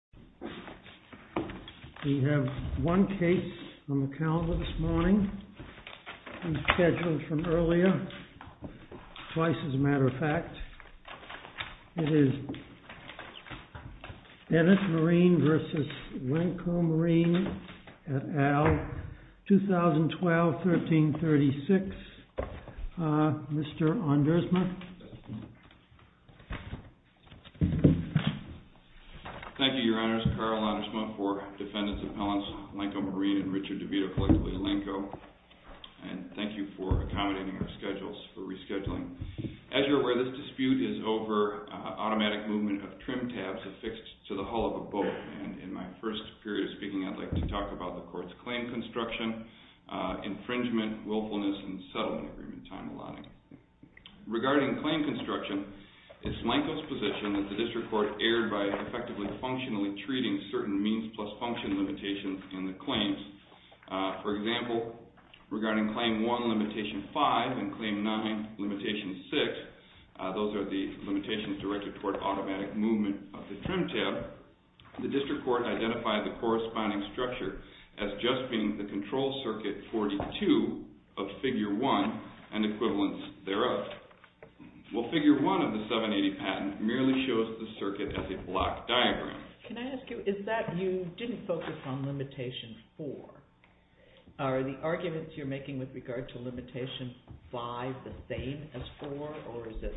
2012-13-36, Mr. ONDERSMA Thank you, Your Honor, and good morning. Thank you, Your Honors, Carl Ondersma for Defendant's Appellants Lenco Marine and Richard DeVito, collectively Lenco, and thank you for accommodating our schedules for rescheduling. As you're aware, this dispute is over automatic movement of trim tabs affixed to the hull of a boat, and in my first period of speaking, I'd like to talk about the Court's claim construction, infringement, willfulness, and settlement agreement time allotting. Regarding claim construction, it's Lenco's position that the District Court erred by effectively functionally treating certain means plus function limitations in the claims. For example, regarding Claim 1, Limitation 5, and Claim 9, Limitation 6, those are the limitations directed toward automatic movement of the trim tab, the District Court identified the corresponding structure as just being the control circuit 42 of Figure 1 and equivalents thereof. Well, Figure 1 of the 780 patent merely shows the circuit as a block diagram. Can I ask you, is that you didn't focus on Limitation 4? Are the arguments you're making with regard to Limitation 5 the same as 4, or is it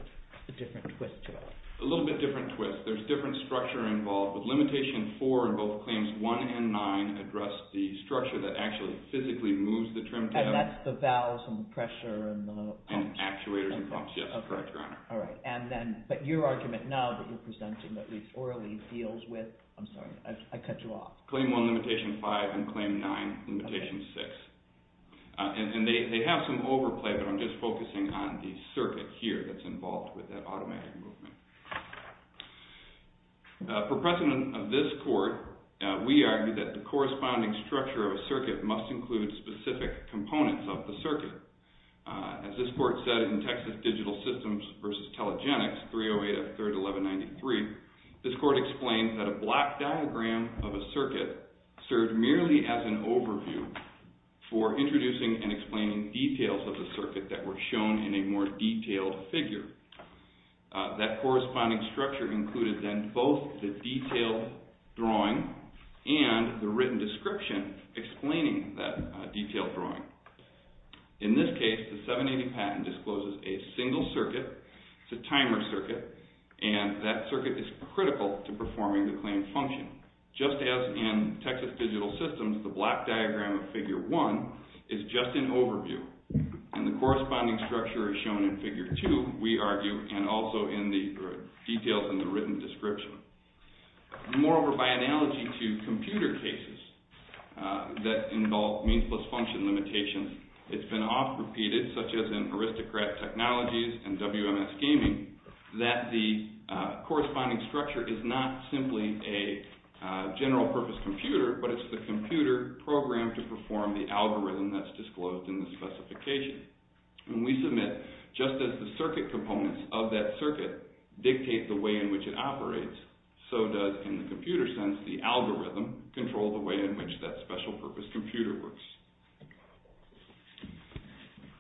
a different twist to it? A little bit different twist. There's different structure involved, but Limitation 4 in both Claims 1 and 9 address the structure that actually physically moves the trim tab. And that's the valves and the pressure and the pumps? And actuators and pumps, yes, correct, Your Honor. All right, and then, but your argument now that you're presenting, at least orally, deals with, I'm sorry, I cut you off. Claim 1, Limitation 5, and Claim 9, Limitation 6. And they have some overplay, but I'm just focusing on the circuit here that's involved with that automatic movement. For precedent of this Court, we argue that the corresponding structure of a circuit must include specific components of the circuit. As this Court said in Texas Digital Systems v. Telegenics, 308 of 3rd 1193, this Court explained that a block diagram of a circuit served merely as an overview for introducing and explaining details of the circuit that were shown in a more detailed figure. That corresponding structure included then both the detailed drawing and the written description explaining that detailed drawing. In this case, the 780 patent discloses a single circuit. It's a timer circuit, and that circuit is critical to performing the claim function. Just as in Texas Digital Systems, the block diagram of Figure 1 is just an overview, and the corresponding structure is shown in Figure 2, we argue, and also in the details in the written description. Moreover, by analogy to computer cases that involve means plus function limitations, it's been often repeated, such as in Aristocrat Technologies and WMS Gaming, that the corresponding structure is not simply a general purpose computer, but it's the computer programmed to perform the algorithm that's disclosed in the specification. When we submit, just as the circuit components of that circuit dictate the way in which it operates, so does, in the computer sense, the algorithm control the way in which that special purpose computer works.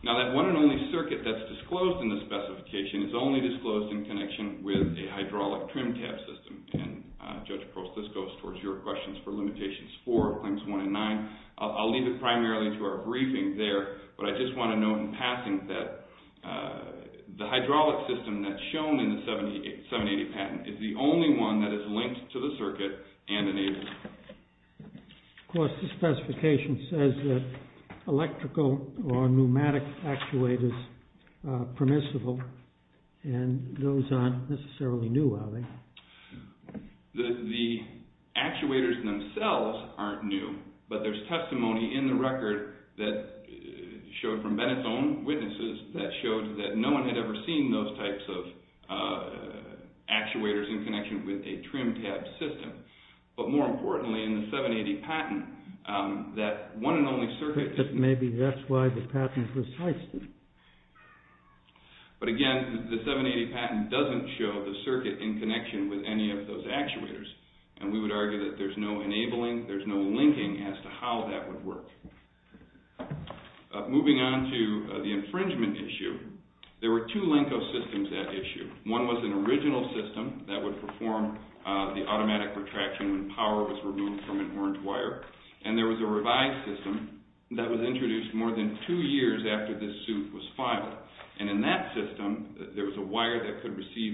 Now that one and only circuit that's disclosed in the specification is only disclosed in connection with a hydraulic trim tab system, and Judge Prost, this goes towards your questions for Limitations 4, Claims 1 and 9. I'll leave it primarily to our briefing there, but I just want to note in passing that the hydraulic system that's shown in the 7080 patent is the only one that is linked to the circuit and enabled. Of course, the specification says that electrical or pneumatic actuators are permissible, and those aren't necessarily new, are they? The actuators themselves aren't new, but there's testimony in the record that showed from Bennett's own witnesses that showed that no one had ever seen those types of actuators in connection with a trim tab system. But more importantly, in the 780 patent, that one and only circuit... Maybe that's why the patent was heisted. But again, the 780 patent doesn't show the circuit in connection with any of those actuators, and we would argue that there's no enabling, there's no linking as to how that would work. Moving on to the infringement issue, there were two LENCO systems at issue. One was an original system that would perform the automatic retraction when power was removed from an orange wire, and there was a revised system that was introduced more than two years after this suit was filed, and in that system, there was a wire that could receive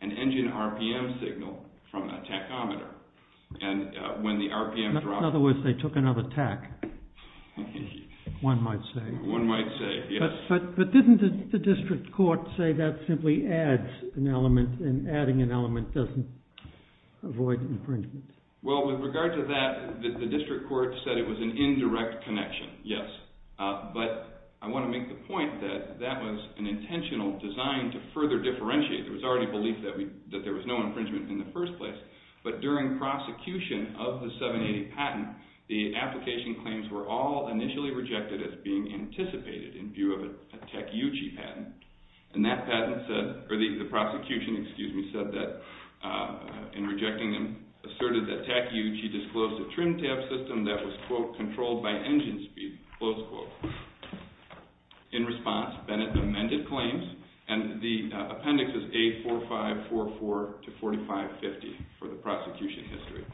an engine RPM signal from a tachometer, and when the RPM dropped... In other words, they took another tach, one might say. One might say, yes. But didn't the district court say that simply adds an element, and adding an element doesn't avoid infringement? Well, with regard to that, the district court said it was an indirect connection, yes. But I want to make the point that that was an intentional design to further differentiate. There was already belief that there was no infringement in the first place, but during prosecution of the 780 patent, the application claims were all initially rejected as being anticipated in view of a tachyuchi patent, and that patent said, or the prosecution, excuse me, said that, in rejecting them, asserted that tachyuchi disclosed a trim tab system that was, quote, controlled by engine speed, close quote. In response, Bennett amended claims, and the appendix is A4544 to 4550 for the prosecution history.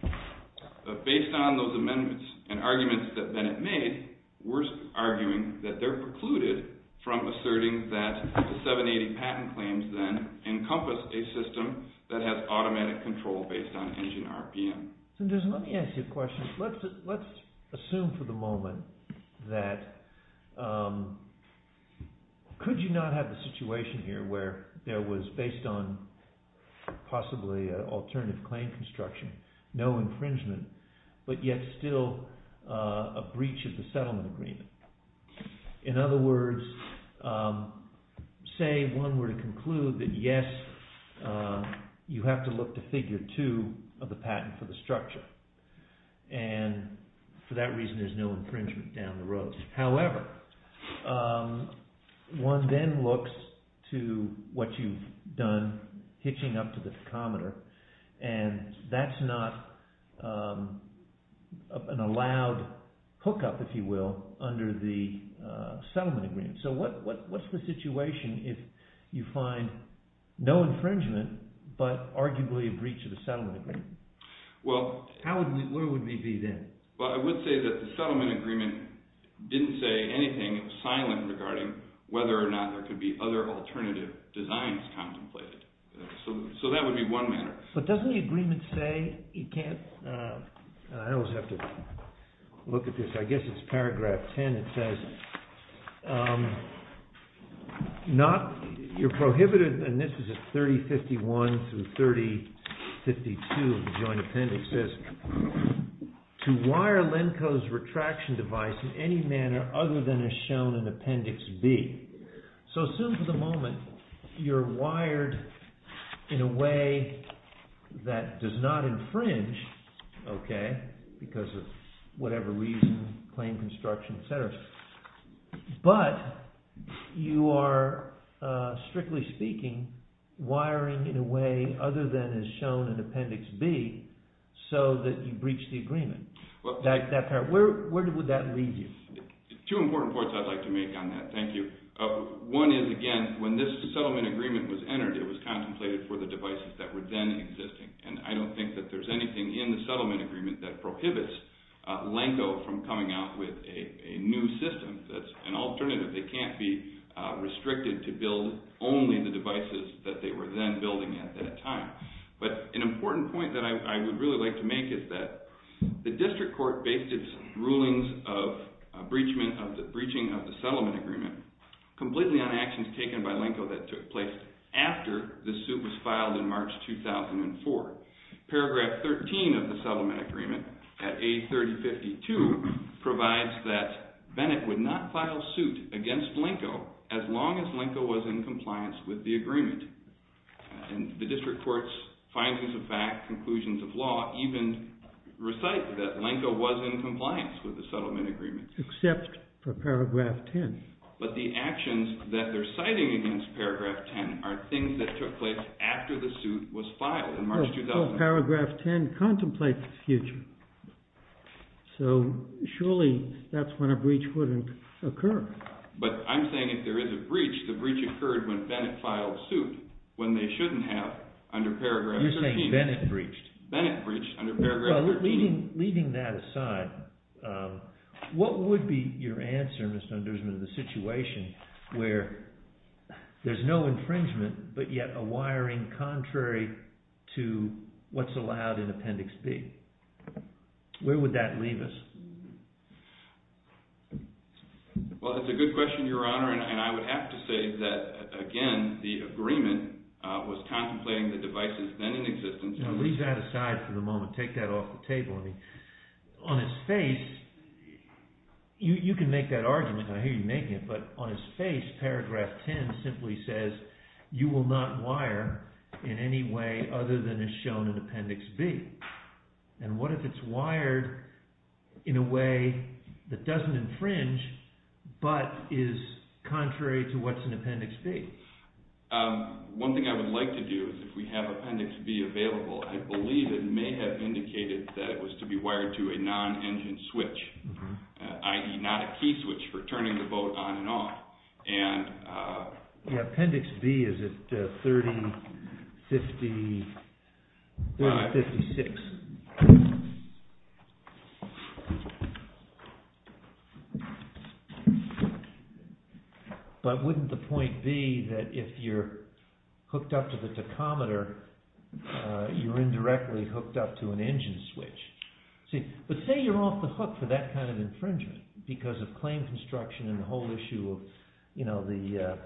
But based on those amendments and arguments that Bennett made, we're arguing that they're precluded from asserting that the 780 patent claims then encompass a system that has automatic control based on engine RPM. Let me ask you a question. Let's assume for the moment that could you not have a situation here where there was based on possibly an alternative claim construction, no infringement, but yet still a breach of the settlement agreement? In other words, say one were to conclude that, yes, you have to look to figure two of the structure, and for that reason there's no infringement down the road. However, one then looks to what you've done, hitching up to the tachymeter, and that's not an allowed hookup, if you will, under the settlement agreement. So what's the situation if you find no infringement, but arguably a breach of the settlement agreement? Where would we be then? I would say that the settlement agreement didn't say anything silent regarding whether or not there could be other alternative designs contemplated. So that would be one matter. But doesn't the agreement say, you can't, I always have to look at this, I guess it's to wire Lenko's retraction device in any manner other than as shown in Appendix B. So assume for the moment you're wired in a way that does not infringe, because of whatever reason, claim construction, etc. But you are, strictly speaking, wiring in a way other than as shown in Appendix B, so that you breach the agreement. Where would that lead you? Two important points I'd like to make on that, thank you. One is, again, when this settlement agreement was entered, it was contemplated for the devices that were then existing. And I don't think that there's anything in the settlement agreement that prohibits Lenko from coming out with a new system that's an alternative. They can't be restricted to build only the devices that they were then building at that time. But an important point that I would really like to make is that the district court based its rulings of breaching of the settlement agreement completely on actions taken by Lenko that took place after the suit was filed in March 2004. Paragraph 13 of the settlement agreement, at A3052, provides that Bennett would not file suit against Lenko as long as Lenko was in compliance with the agreement. And the district court's findings of fact, conclusions of law, even recite that Lenko was in compliance with the settlement agreement. Except for Paragraph 10. But the actions that they're citing against Paragraph 10 are things that took place after the suit was filed in March 2004. Well, Paragraph 10 contemplates the future. So, surely, that's when a breach wouldn't occur. But I'm saying if there is a breach, the breach occurred when Bennett filed suit, when they shouldn't have under Paragraph 13. You're saying Bennett breached. Bennett breached under Paragraph 13. Well, leaving that aside, what would be your answer, Mr. Nussbaum, to the situation where there's no infringement, but yet a wiring contrary to what's allowed in Appendix B? Where would that leave us? Well, that's a good question, Your Honor. And I would have to say that, again, the agreement was contemplating the devices then in existence. Now, leave that aside for the moment. Take that off the table. On its face, you can make that argument. I hear you making it. But on its face, Paragraph 10 simply says you will not wire in any way other than as shown in Appendix B. And what if it's wired in a way that doesn't infringe, but is contrary to what's in Appendix B? One thing I would like to do is if we have Appendix B available, I believe it may have indicated that it was to be wired to a non-engine switch, i.e. not a key switch for turning the boat on and off. Appendix B is at 3056. But wouldn't the point be that if you're hooked up to the tachometer, you're indirectly hooked up to an engine switch? But say you're off the hook for that kind of infringement because of claim construction and the whole issue of the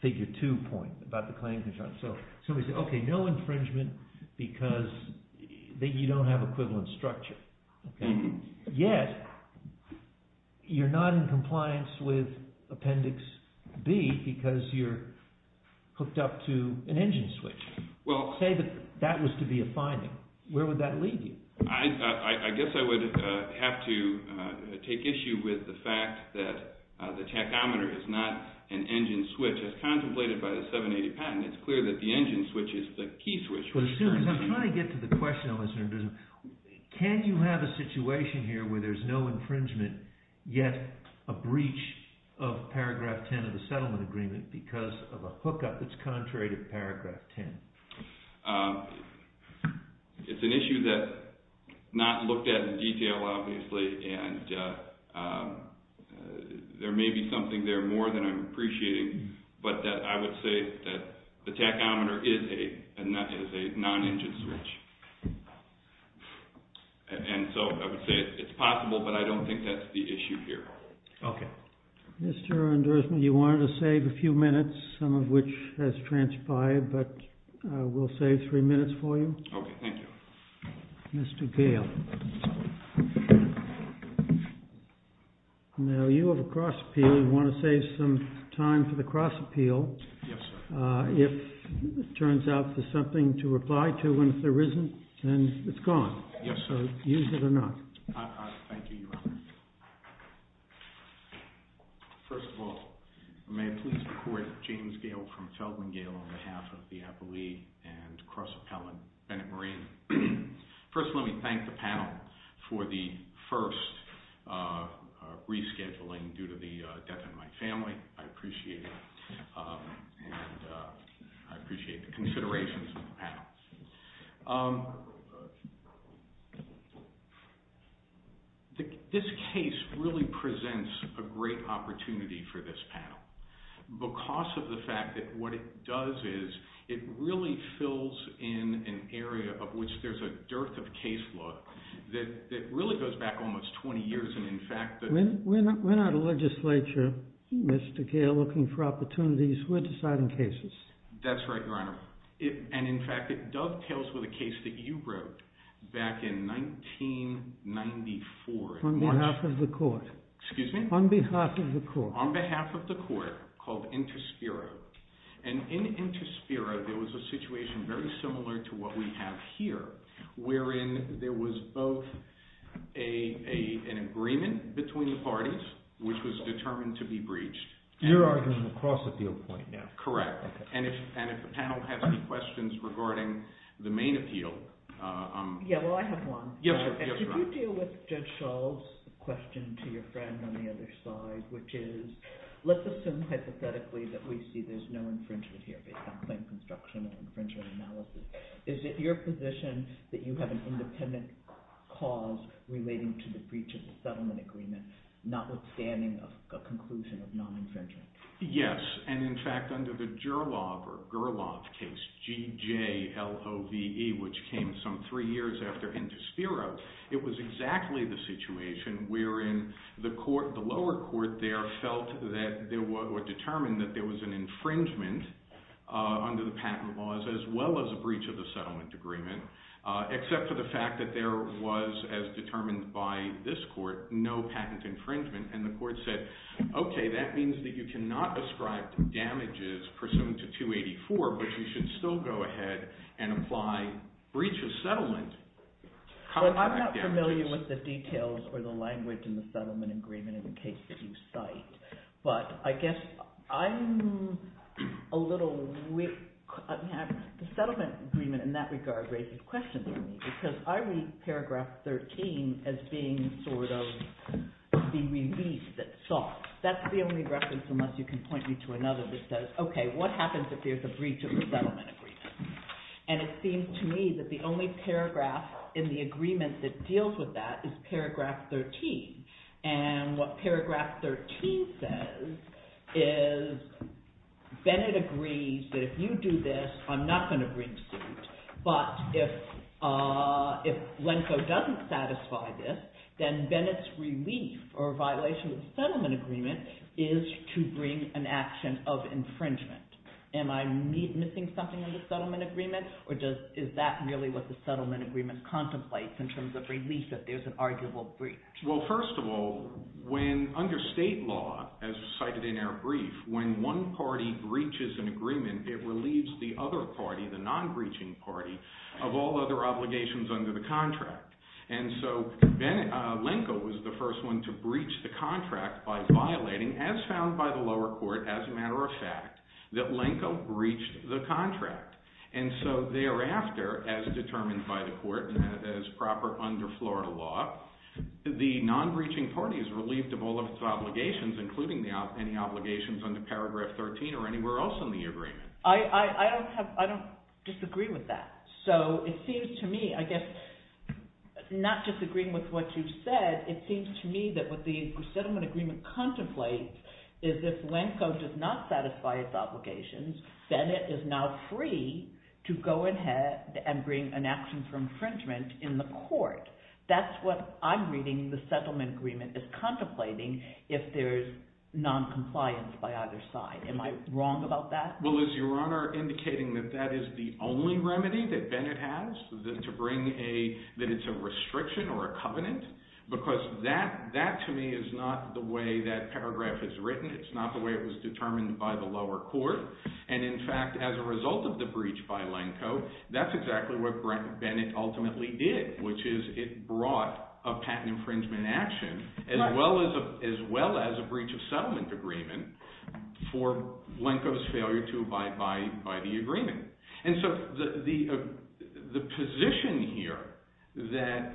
Figure 2 point about the claim construction. So we say, OK, no infringement because you don't have equivalent structure. Yet, you're not in compliance with Appendix B because you're hooked up to an engine switch. Say that that was to be a finding. Where would that lead you? I guess I would have to take issue with the fact that the tachometer is not an engine switch as contemplated by the 780 patent. It's clear that the engine switch is the key switch. But as soon as I'm trying to get to the question, can you have a situation here where there's no infringement, yet a breach of Paragraph 10 of the Settlement Agreement because of infringement? It's an issue that's not looked at in detail, obviously. And there may be something there more than I'm appreciating. But I would say that the tachometer is a non-engine switch. And so I would say it's possible, but I don't think that's the issue here. OK. Mr. Andersen, you wanted to save a few minutes, some of which has transpired. But we'll save three minutes for you. OK. Thank you. Mr. Gale. Now, you have a cross appeal. You want to save some time for the cross appeal. Yes, sir. If it turns out there's something to reply to, and if there isn't, then it's gone. Yes, sir. So use it or not. Thank you, Your Honor. First of all, may I please report James Gale from Feldman Gale on behalf of the appellee and cross appellant, Bennett Marine. First, let me thank the panel for the first rescheduling due to the death of my family. I appreciate it. And I appreciate the considerations of the panel. This case really presents a great opportunity for this panel because of the fact that what it does is it really fills in an area of which there's a dearth of case law that really goes back almost 20 years. And in fact, the- We're not a legislature, Mr. Gale, looking for opportunities. That's right, Your Honor. And in fact, it dovetails with a case that you wrote back in 1994. On behalf of the court. Excuse me? On behalf of the court. On behalf of the court called Inter Spiro. And in Inter Spiro, there was a situation very similar to what we have here, wherein there was both an agreement between the parties, which was determined to be breached. You're arguing the cross appeal point now. Correct. And if the panel has any questions regarding the main appeal- Yeah, well, I have one. Yes, Your Honor. Did you deal with Judge Schall's question to your friend on the other side, which is, let's assume hypothetically that we see there's no infringement here based on claim construction and infringement analysis. Is it your position that you have an independent cause relating to the breach of the settlement agreement, notwithstanding a conclusion of non-infringement? Yes. And in fact, under the Gerlov case, G-J-L-O-V-E, which came some three years after Inter Spiro, it was exactly the situation wherein the lower court there felt that or determined that there was an infringement under the patent laws as well as a breach of the settlement agreement, except for the fact that there was, as determined by this court, no patent infringement. And the court said, okay, that means that you cannot ascribe damages pursuant to 284, but you should still go ahead and apply breach of settlement contract damages. Well, I'm not familiar with the details or the language in the settlement agreement in the case that you cite, but I guess I'm a little weak. The settlement agreement in that regard raises questions for me because I read paragraph 13 as being sort of the relief that's sought. That's the only reference unless you can point me to another that says, okay, what happens if there's a breach of the settlement agreement? And it seems to me that the only paragraph in the agreement that deals with that is paragraph 13. And what paragraph 13 says is Bennett agrees that if you do this, I'm not going to breach suit, but if Lenko doesn't satisfy this, then Bennett's relief or violation of the settlement agreement is to bring an action of infringement. Am I missing something in the settlement agreement, or is that really what the settlement agreement contemplates in terms of relief that there's an arguable breach? Well, first of all, when under state law, as cited in our brief, when one party breaches an agreement, it relieves the other party, the non-breaching party, of all other obligations under the contract. And so Lenko was the first one to breach the contract by violating, as found by the lower court, as a matter of fact, that Lenko breached the contract. And so thereafter, as determined by the court, as proper under Florida law, the non-breaching party is relieved of all of its obligations, including any obligations under paragraph 13 or anywhere else in the agreement. I don't disagree with that. So it seems to me, I guess, not disagreeing with what you said, it seems to me that what the settlement agreement contemplates is if Lenko does not satisfy its obligations, Bennett is now free to go ahead and bring an action for infringement in the court. That's what I'm reading the settlement agreement is contemplating if there's noncompliance by either side. Am I wrong about that? Well, is Your Honor indicating that that is the only remedy that Bennett has, that it's a restriction or a covenant? Because that, to me, is not the way that paragraph is written. It's not the way it was determined by the lower court. And, in fact, as a result of the breach by Lenko, that's exactly what Bennett ultimately did, which is it brought a patent infringement action as well as a breach of settlement agreement for Lenko's failure to abide by the agreement. And so the position here that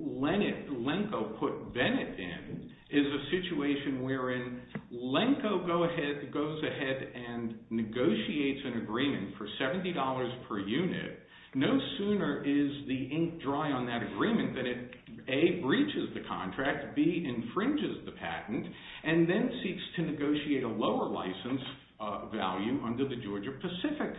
Lenko put Bennett in is a situation wherein Lenko goes ahead and negotiates an agreement for $70 per unit. No sooner is the ink dry on that agreement that it, A, breaches the contract, B, infringes the patent, and then seeks to negotiate a lower license value under the Georgia-Pacific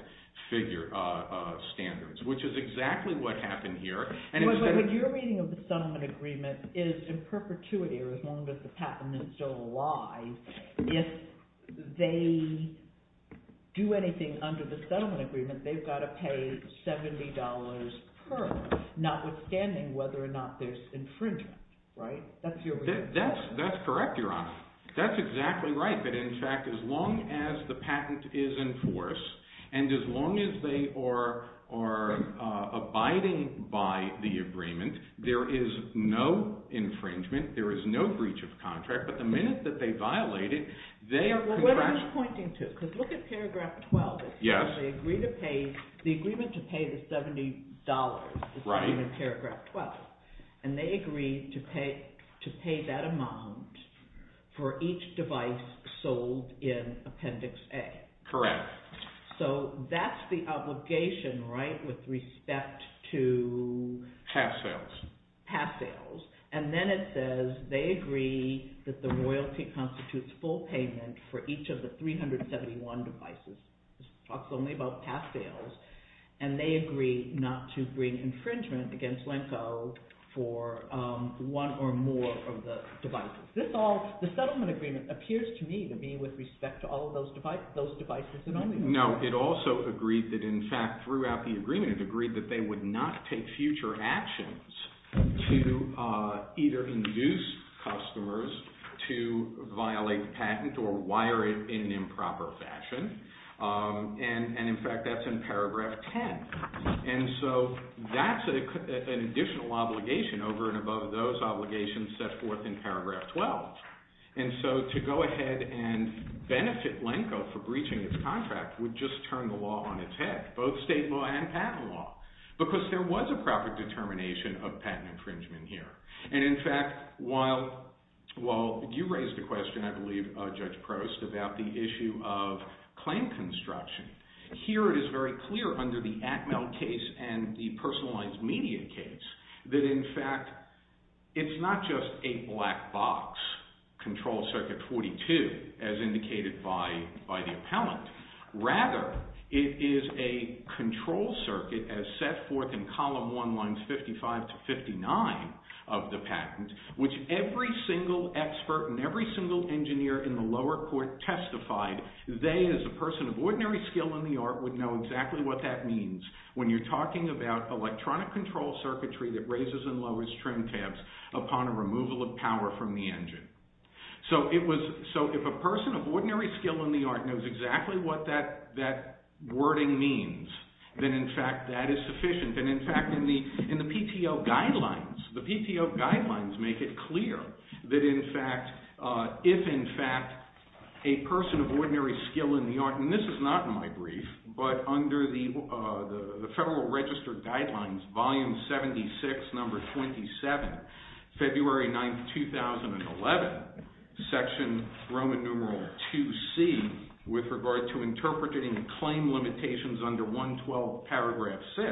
standards, which is exactly what happened here. But what you're reading of the settlement agreement is in perpetuity, or as long as the patent is still alive, if they do anything under the settlement agreement, they've got to pay $70 per, notwithstanding whether or not there's infringement, right? That's correct, Your Honor. That's exactly right. But, in fact, as long as the patent is in force and as long as they are abiding by the agreement, there is no infringement, there is no breach of contract, but the minute that they violate it, they... What I'm pointing to, because look at paragraph 12. Yes. They agree to pay, the agreement to pay the $70 is in paragraph 12. And they agree to pay that amount for each device sold in Appendix A. Correct. So that's the obligation, right, with respect to... Pass sales. Pass sales. And then it says, they agree that the royalty constitutes full payment for each of the 371 devices. It talks only about pass sales. And they agree not to bring infringement against Lenko for one or more of the devices. This all, the settlement agreement, appears to me to be with respect to all of those devices and only one. No, it also agreed that, in fact, throughout the agreement, it agreed that they would not take future actions to either induce customers to violate the patent or wire it in an improper fashion. And, in fact, that's in paragraph 10. And so that's an additional obligation over and above those obligations set forth in paragraph 12. And so to go ahead and benefit Lenko for breaching its contract would just turn the law on its head, both state law and patent law, because there was a proper determination of patent infringement here. And, in fact, while you raised the question, I believe, Judge Prost, about the issue of claim construction, here it is very clear under the Atmel case and the personalized media case that, in fact, it's not just a black box, Control Circuit 42, as indicated by the appellant. Rather, it is a control circuit as set forth in column 1, lines 55 to 59 of the patent, which every single expert and every single engineer in the lower court testified they, as a person of ordinary skill in the art, would know exactly what that means when you're talking about electronic control circuitry that raises and lowers trim tabs upon a removal of power from the engine. So if a person of ordinary skill in the art knows exactly what that wording means, then, in fact, that is sufficient. And, in fact, in the PTO guidelines, the PTO guidelines make it clear that, in fact, if, in fact, a person of ordinary skill in the art, and this is not in my brief, but under the Federal Register Guidelines, Volume 76, Number 27, February 9, 2011, Section Roman Numeral 2C, with regard to interpreting and claim limitations under 112, Paragraph 6,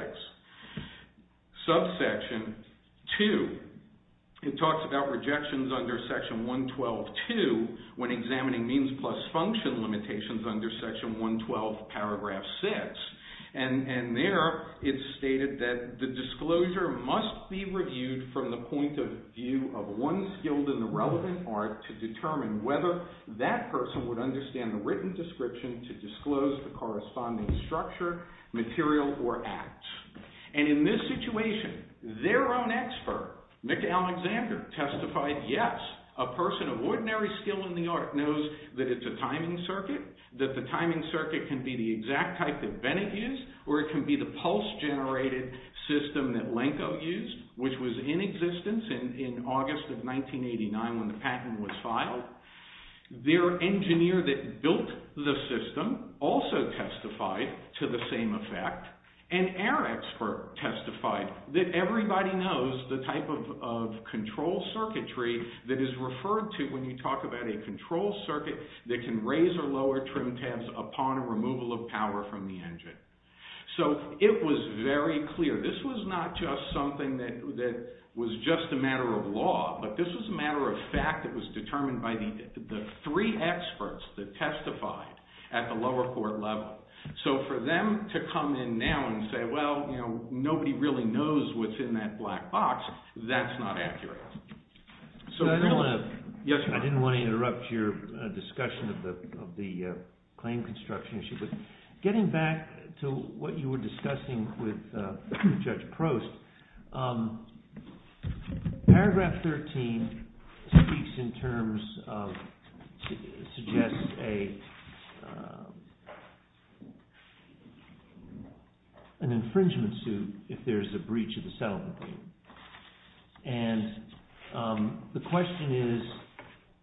Subsection 2, it talks about rejections under Section 112.2 when examining means plus function limitations under Section 112, Paragraph 6, and there it's stated that the disclosure must be reviewed from the point of view of one skilled in the relevant art to determine whether that person would understand the written description to disclose the corresponding structure, material, or acts. And in this situation, their own expert, Mick Alexander, testified, yes, a person of ordinary skill in the art knows that it's a timing circuit, that the timing circuit can be the exact type that Bennett used, or it can be the pulse-generated system that Lenko used, which was in existence in August of 1989 when the patent was filed. Their engineer that built the system also testified to the same effect, and our expert testified that everybody knows the type of control circuitry that is referred to when you talk about a control circuit that can raise or lower trim tabs upon removal of power from the engine. So it was very clear. This was not just something that was just a matter of law, but this was a matter of fact that was determined by the three experts that testified at the lower court level. So for them to come in now and say, well, you know, nobody really knows what's in that black box, that's not accurate. So I didn't want to interrupt your discussion of the claim construction issue, but getting back to what you were discussing with Judge Prost, paragraph 13 speaks in terms of, suggests an infringement suit if there's a breach of the settlement agreement. And the question is,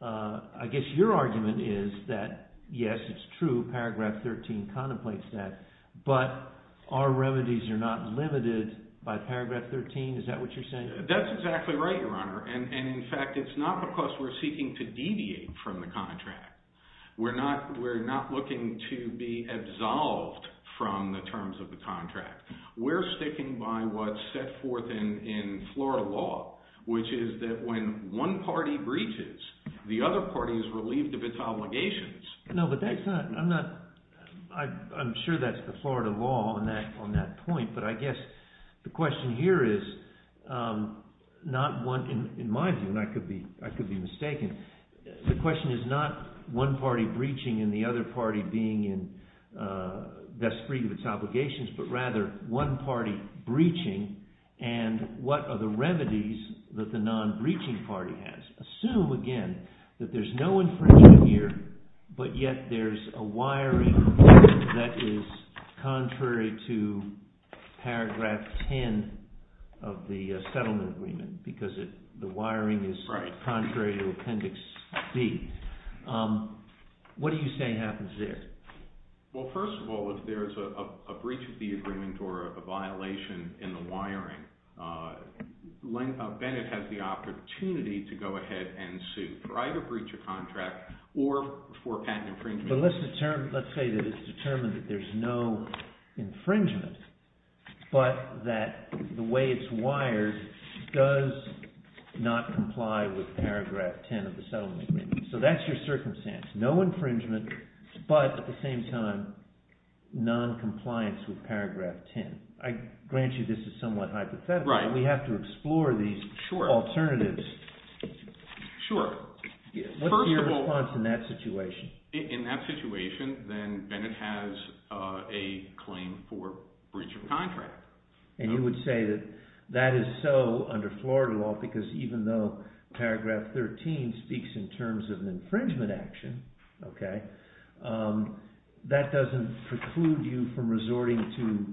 I guess your argument is that, yes, it's true, paragraph 13 contemplates that, but our remedies are not limited by paragraph 13. Is that what you're saying? That's exactly right, Your Honor. And in fact, it's not because we're seeking to deviate from the contract. We're not looking to be absolved from the terms of the contract. We're sticking by what's set forth in Florida law, which is that when one party breaches, the other party is relieved of its obligations. No, but that's not, I'm not, I'm sure that's the Florida law on that point, but I guess the question here is, not one, in my view, and I could be mistaken, the question is not one party breaching and the other party being in, thus free of its obligations, but rather one party breaching, and what are the remedies that the non-breaching party has? Assume, again, that there's no infringement here, but yet there's a wiring that is contrary to paragraph 10 of the settlement agreement because the wiring is contrary to appendix D. What do you say happens there? Well, first of all, if there's a breach of the agreement or a violation in the wiring, Bennett has the opportunity to go ahead and sue for either breach of contract or for patent infringement. But let's say that it's determined that there's no infringement, but that the way it's wired does not comply with paragraph 10 of the settlement agreement. So that's your circumstance, no infringement, but at the same time, noncompliance with paragraph 10. I grant you this is somewhat hypothetical, but we have to explore these alternatives. Sure. What's your response in that situation? In that situation, then Bennett has a claim for breach of contract. And you would say that that is so under Florida law because even though paragraph 13 speaks in terms of an infringement action, that doesn't preclude you from resorting to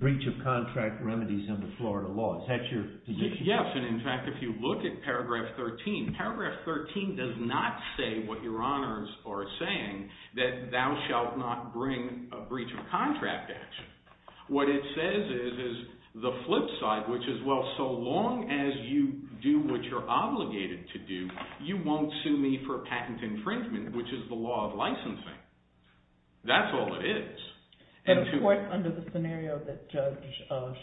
breach of contract remedies under Florida law. Is that your position? Yes. And in fact, if you look at paragraph 13, paragraph 13 does not say what your honors are saying, that thou shalt not bring a breach of contract action. What it says is the flip side, which is, well, so long as you do what you're obligated to do, you won't sue me for patent infringement, which is the law of licensing. That's all it is. But of course, under the scenario that Judge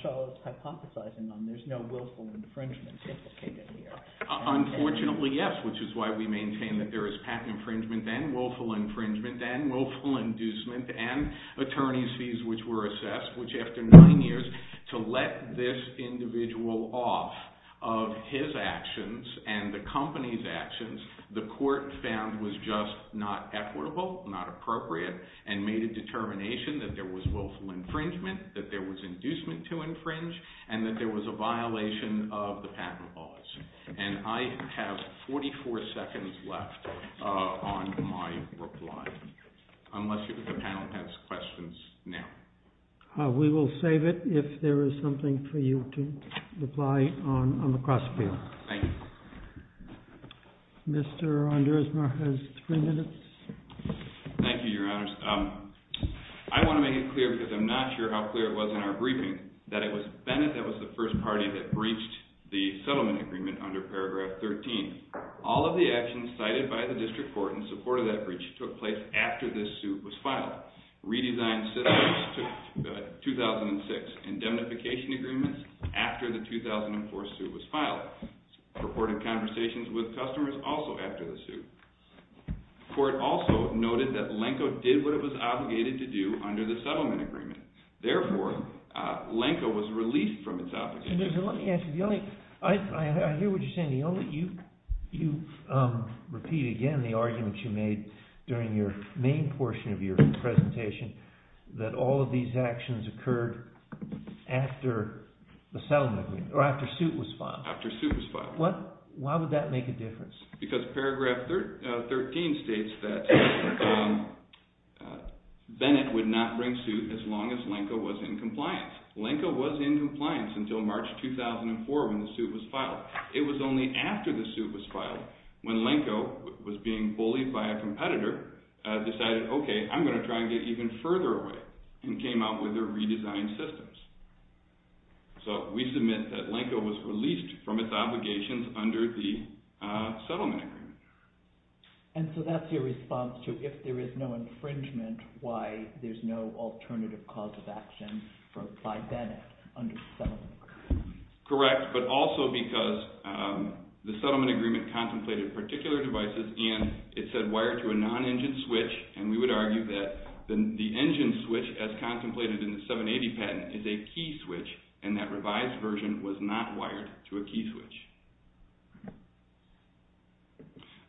Shull is hypothesizing on, there's no willful infringement implicated here. Unfortunately, yes, which is why we maintain that there is patent infringement and willful infringement and willful inducement and attorney's fees which were assessed, which after nine years, to let this individual off of his actions and the company's actions, the court found was just not equitable, not appropriate, that there was inducement to infringe, and that there was a violation of the patent laws. And I have 44 seconds left on my reply, unless the panel has questions now. We will save it if there is something for you to reply on the cross-field. Thank you. Mr. Andresmar has three minutes. Thank you, your honors. I want to make it clear, because I'm not sure how clear it was in our briefing, that it was Bennett that was the first party that breached the settlement agreement under paragraph 13. All of the actions cited by the district court in support of that breach took place after this suit was filed. Redesigned settlements to 2006, indemnification agreements after the 2004 suit was filed, purported conversations with customers also after the suit. The court also noted that Lenko did what it was obligated to do under the settlement agreement. Therefore, Lenko was relieved from its obligation. Mr. Andresmar, let me ask you, I hear what you're saying. You repeat again the argument you made during your main portion of your presentation that all of these actions occurred after the settlement agreement, or after suit was filed. After suit was filed. Why would that make a difference? Because paragraph 13 states that Bennett would not bring suit as long as Lenko was in compliance. Lenko was in compliance until March 2004 when the suit was filed. It was only after the suit was filed when Lenko was being bullied by a competitor, decided, okay, I'm going to try and get even further away, and came out with their redesigned systems. So we submit that Lenko was released from its obligations under the settlement agreement. And so that's your response to, if there is no infringement, why there's no alternative cause of action by Bennett under the settlement agreement. Correct, but also because the settlement agreement contemplated particular devices and it said wired to a non-engine switch, and we would argue that the engine switch, as contemplated in the 780 patent, is a key switch, and that revised version was not wired to a key switch.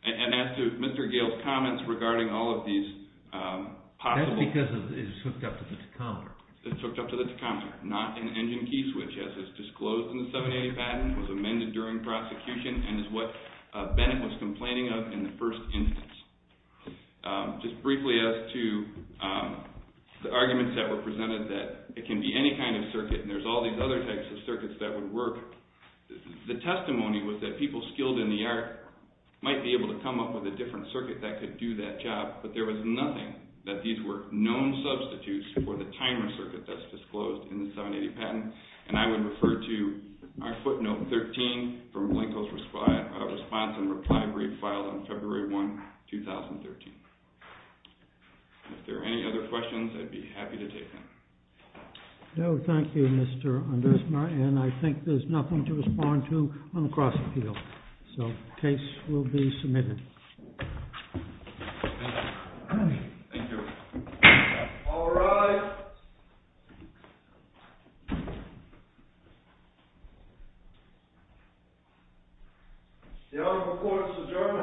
And as to Mr. Gayle's comments regarding all of these possible... That's because it's hooked up to the tachometer. It's hooked up to the tachometer, not an engine key switch, as is disclosed in the 780 patent, was amended during prosecution, and is what Bennett was complaining of in the first instance. Just briefly as to the arguments that were presented that it can be any kind of circuit, and there's all these other types of circuits that would work. The testimony was that people skilled in the art might be able to come up with a different circuit that could do that job, but there was nothing that these were known substitutes for the timer circuit that's disclosed in the 780 patent, and I would refer to our footnote 13 from Blanco's response and reply brief filed on February 1, 2013. If there are any other questions, I'd be happy to take them. No, thank you, Mr. Andresma, and I think there's nothing to respond to on the cross-appeal. So the case will be submitted. Thank you. Thank you. All rise. The Honorable Court is adjourned on today's debate.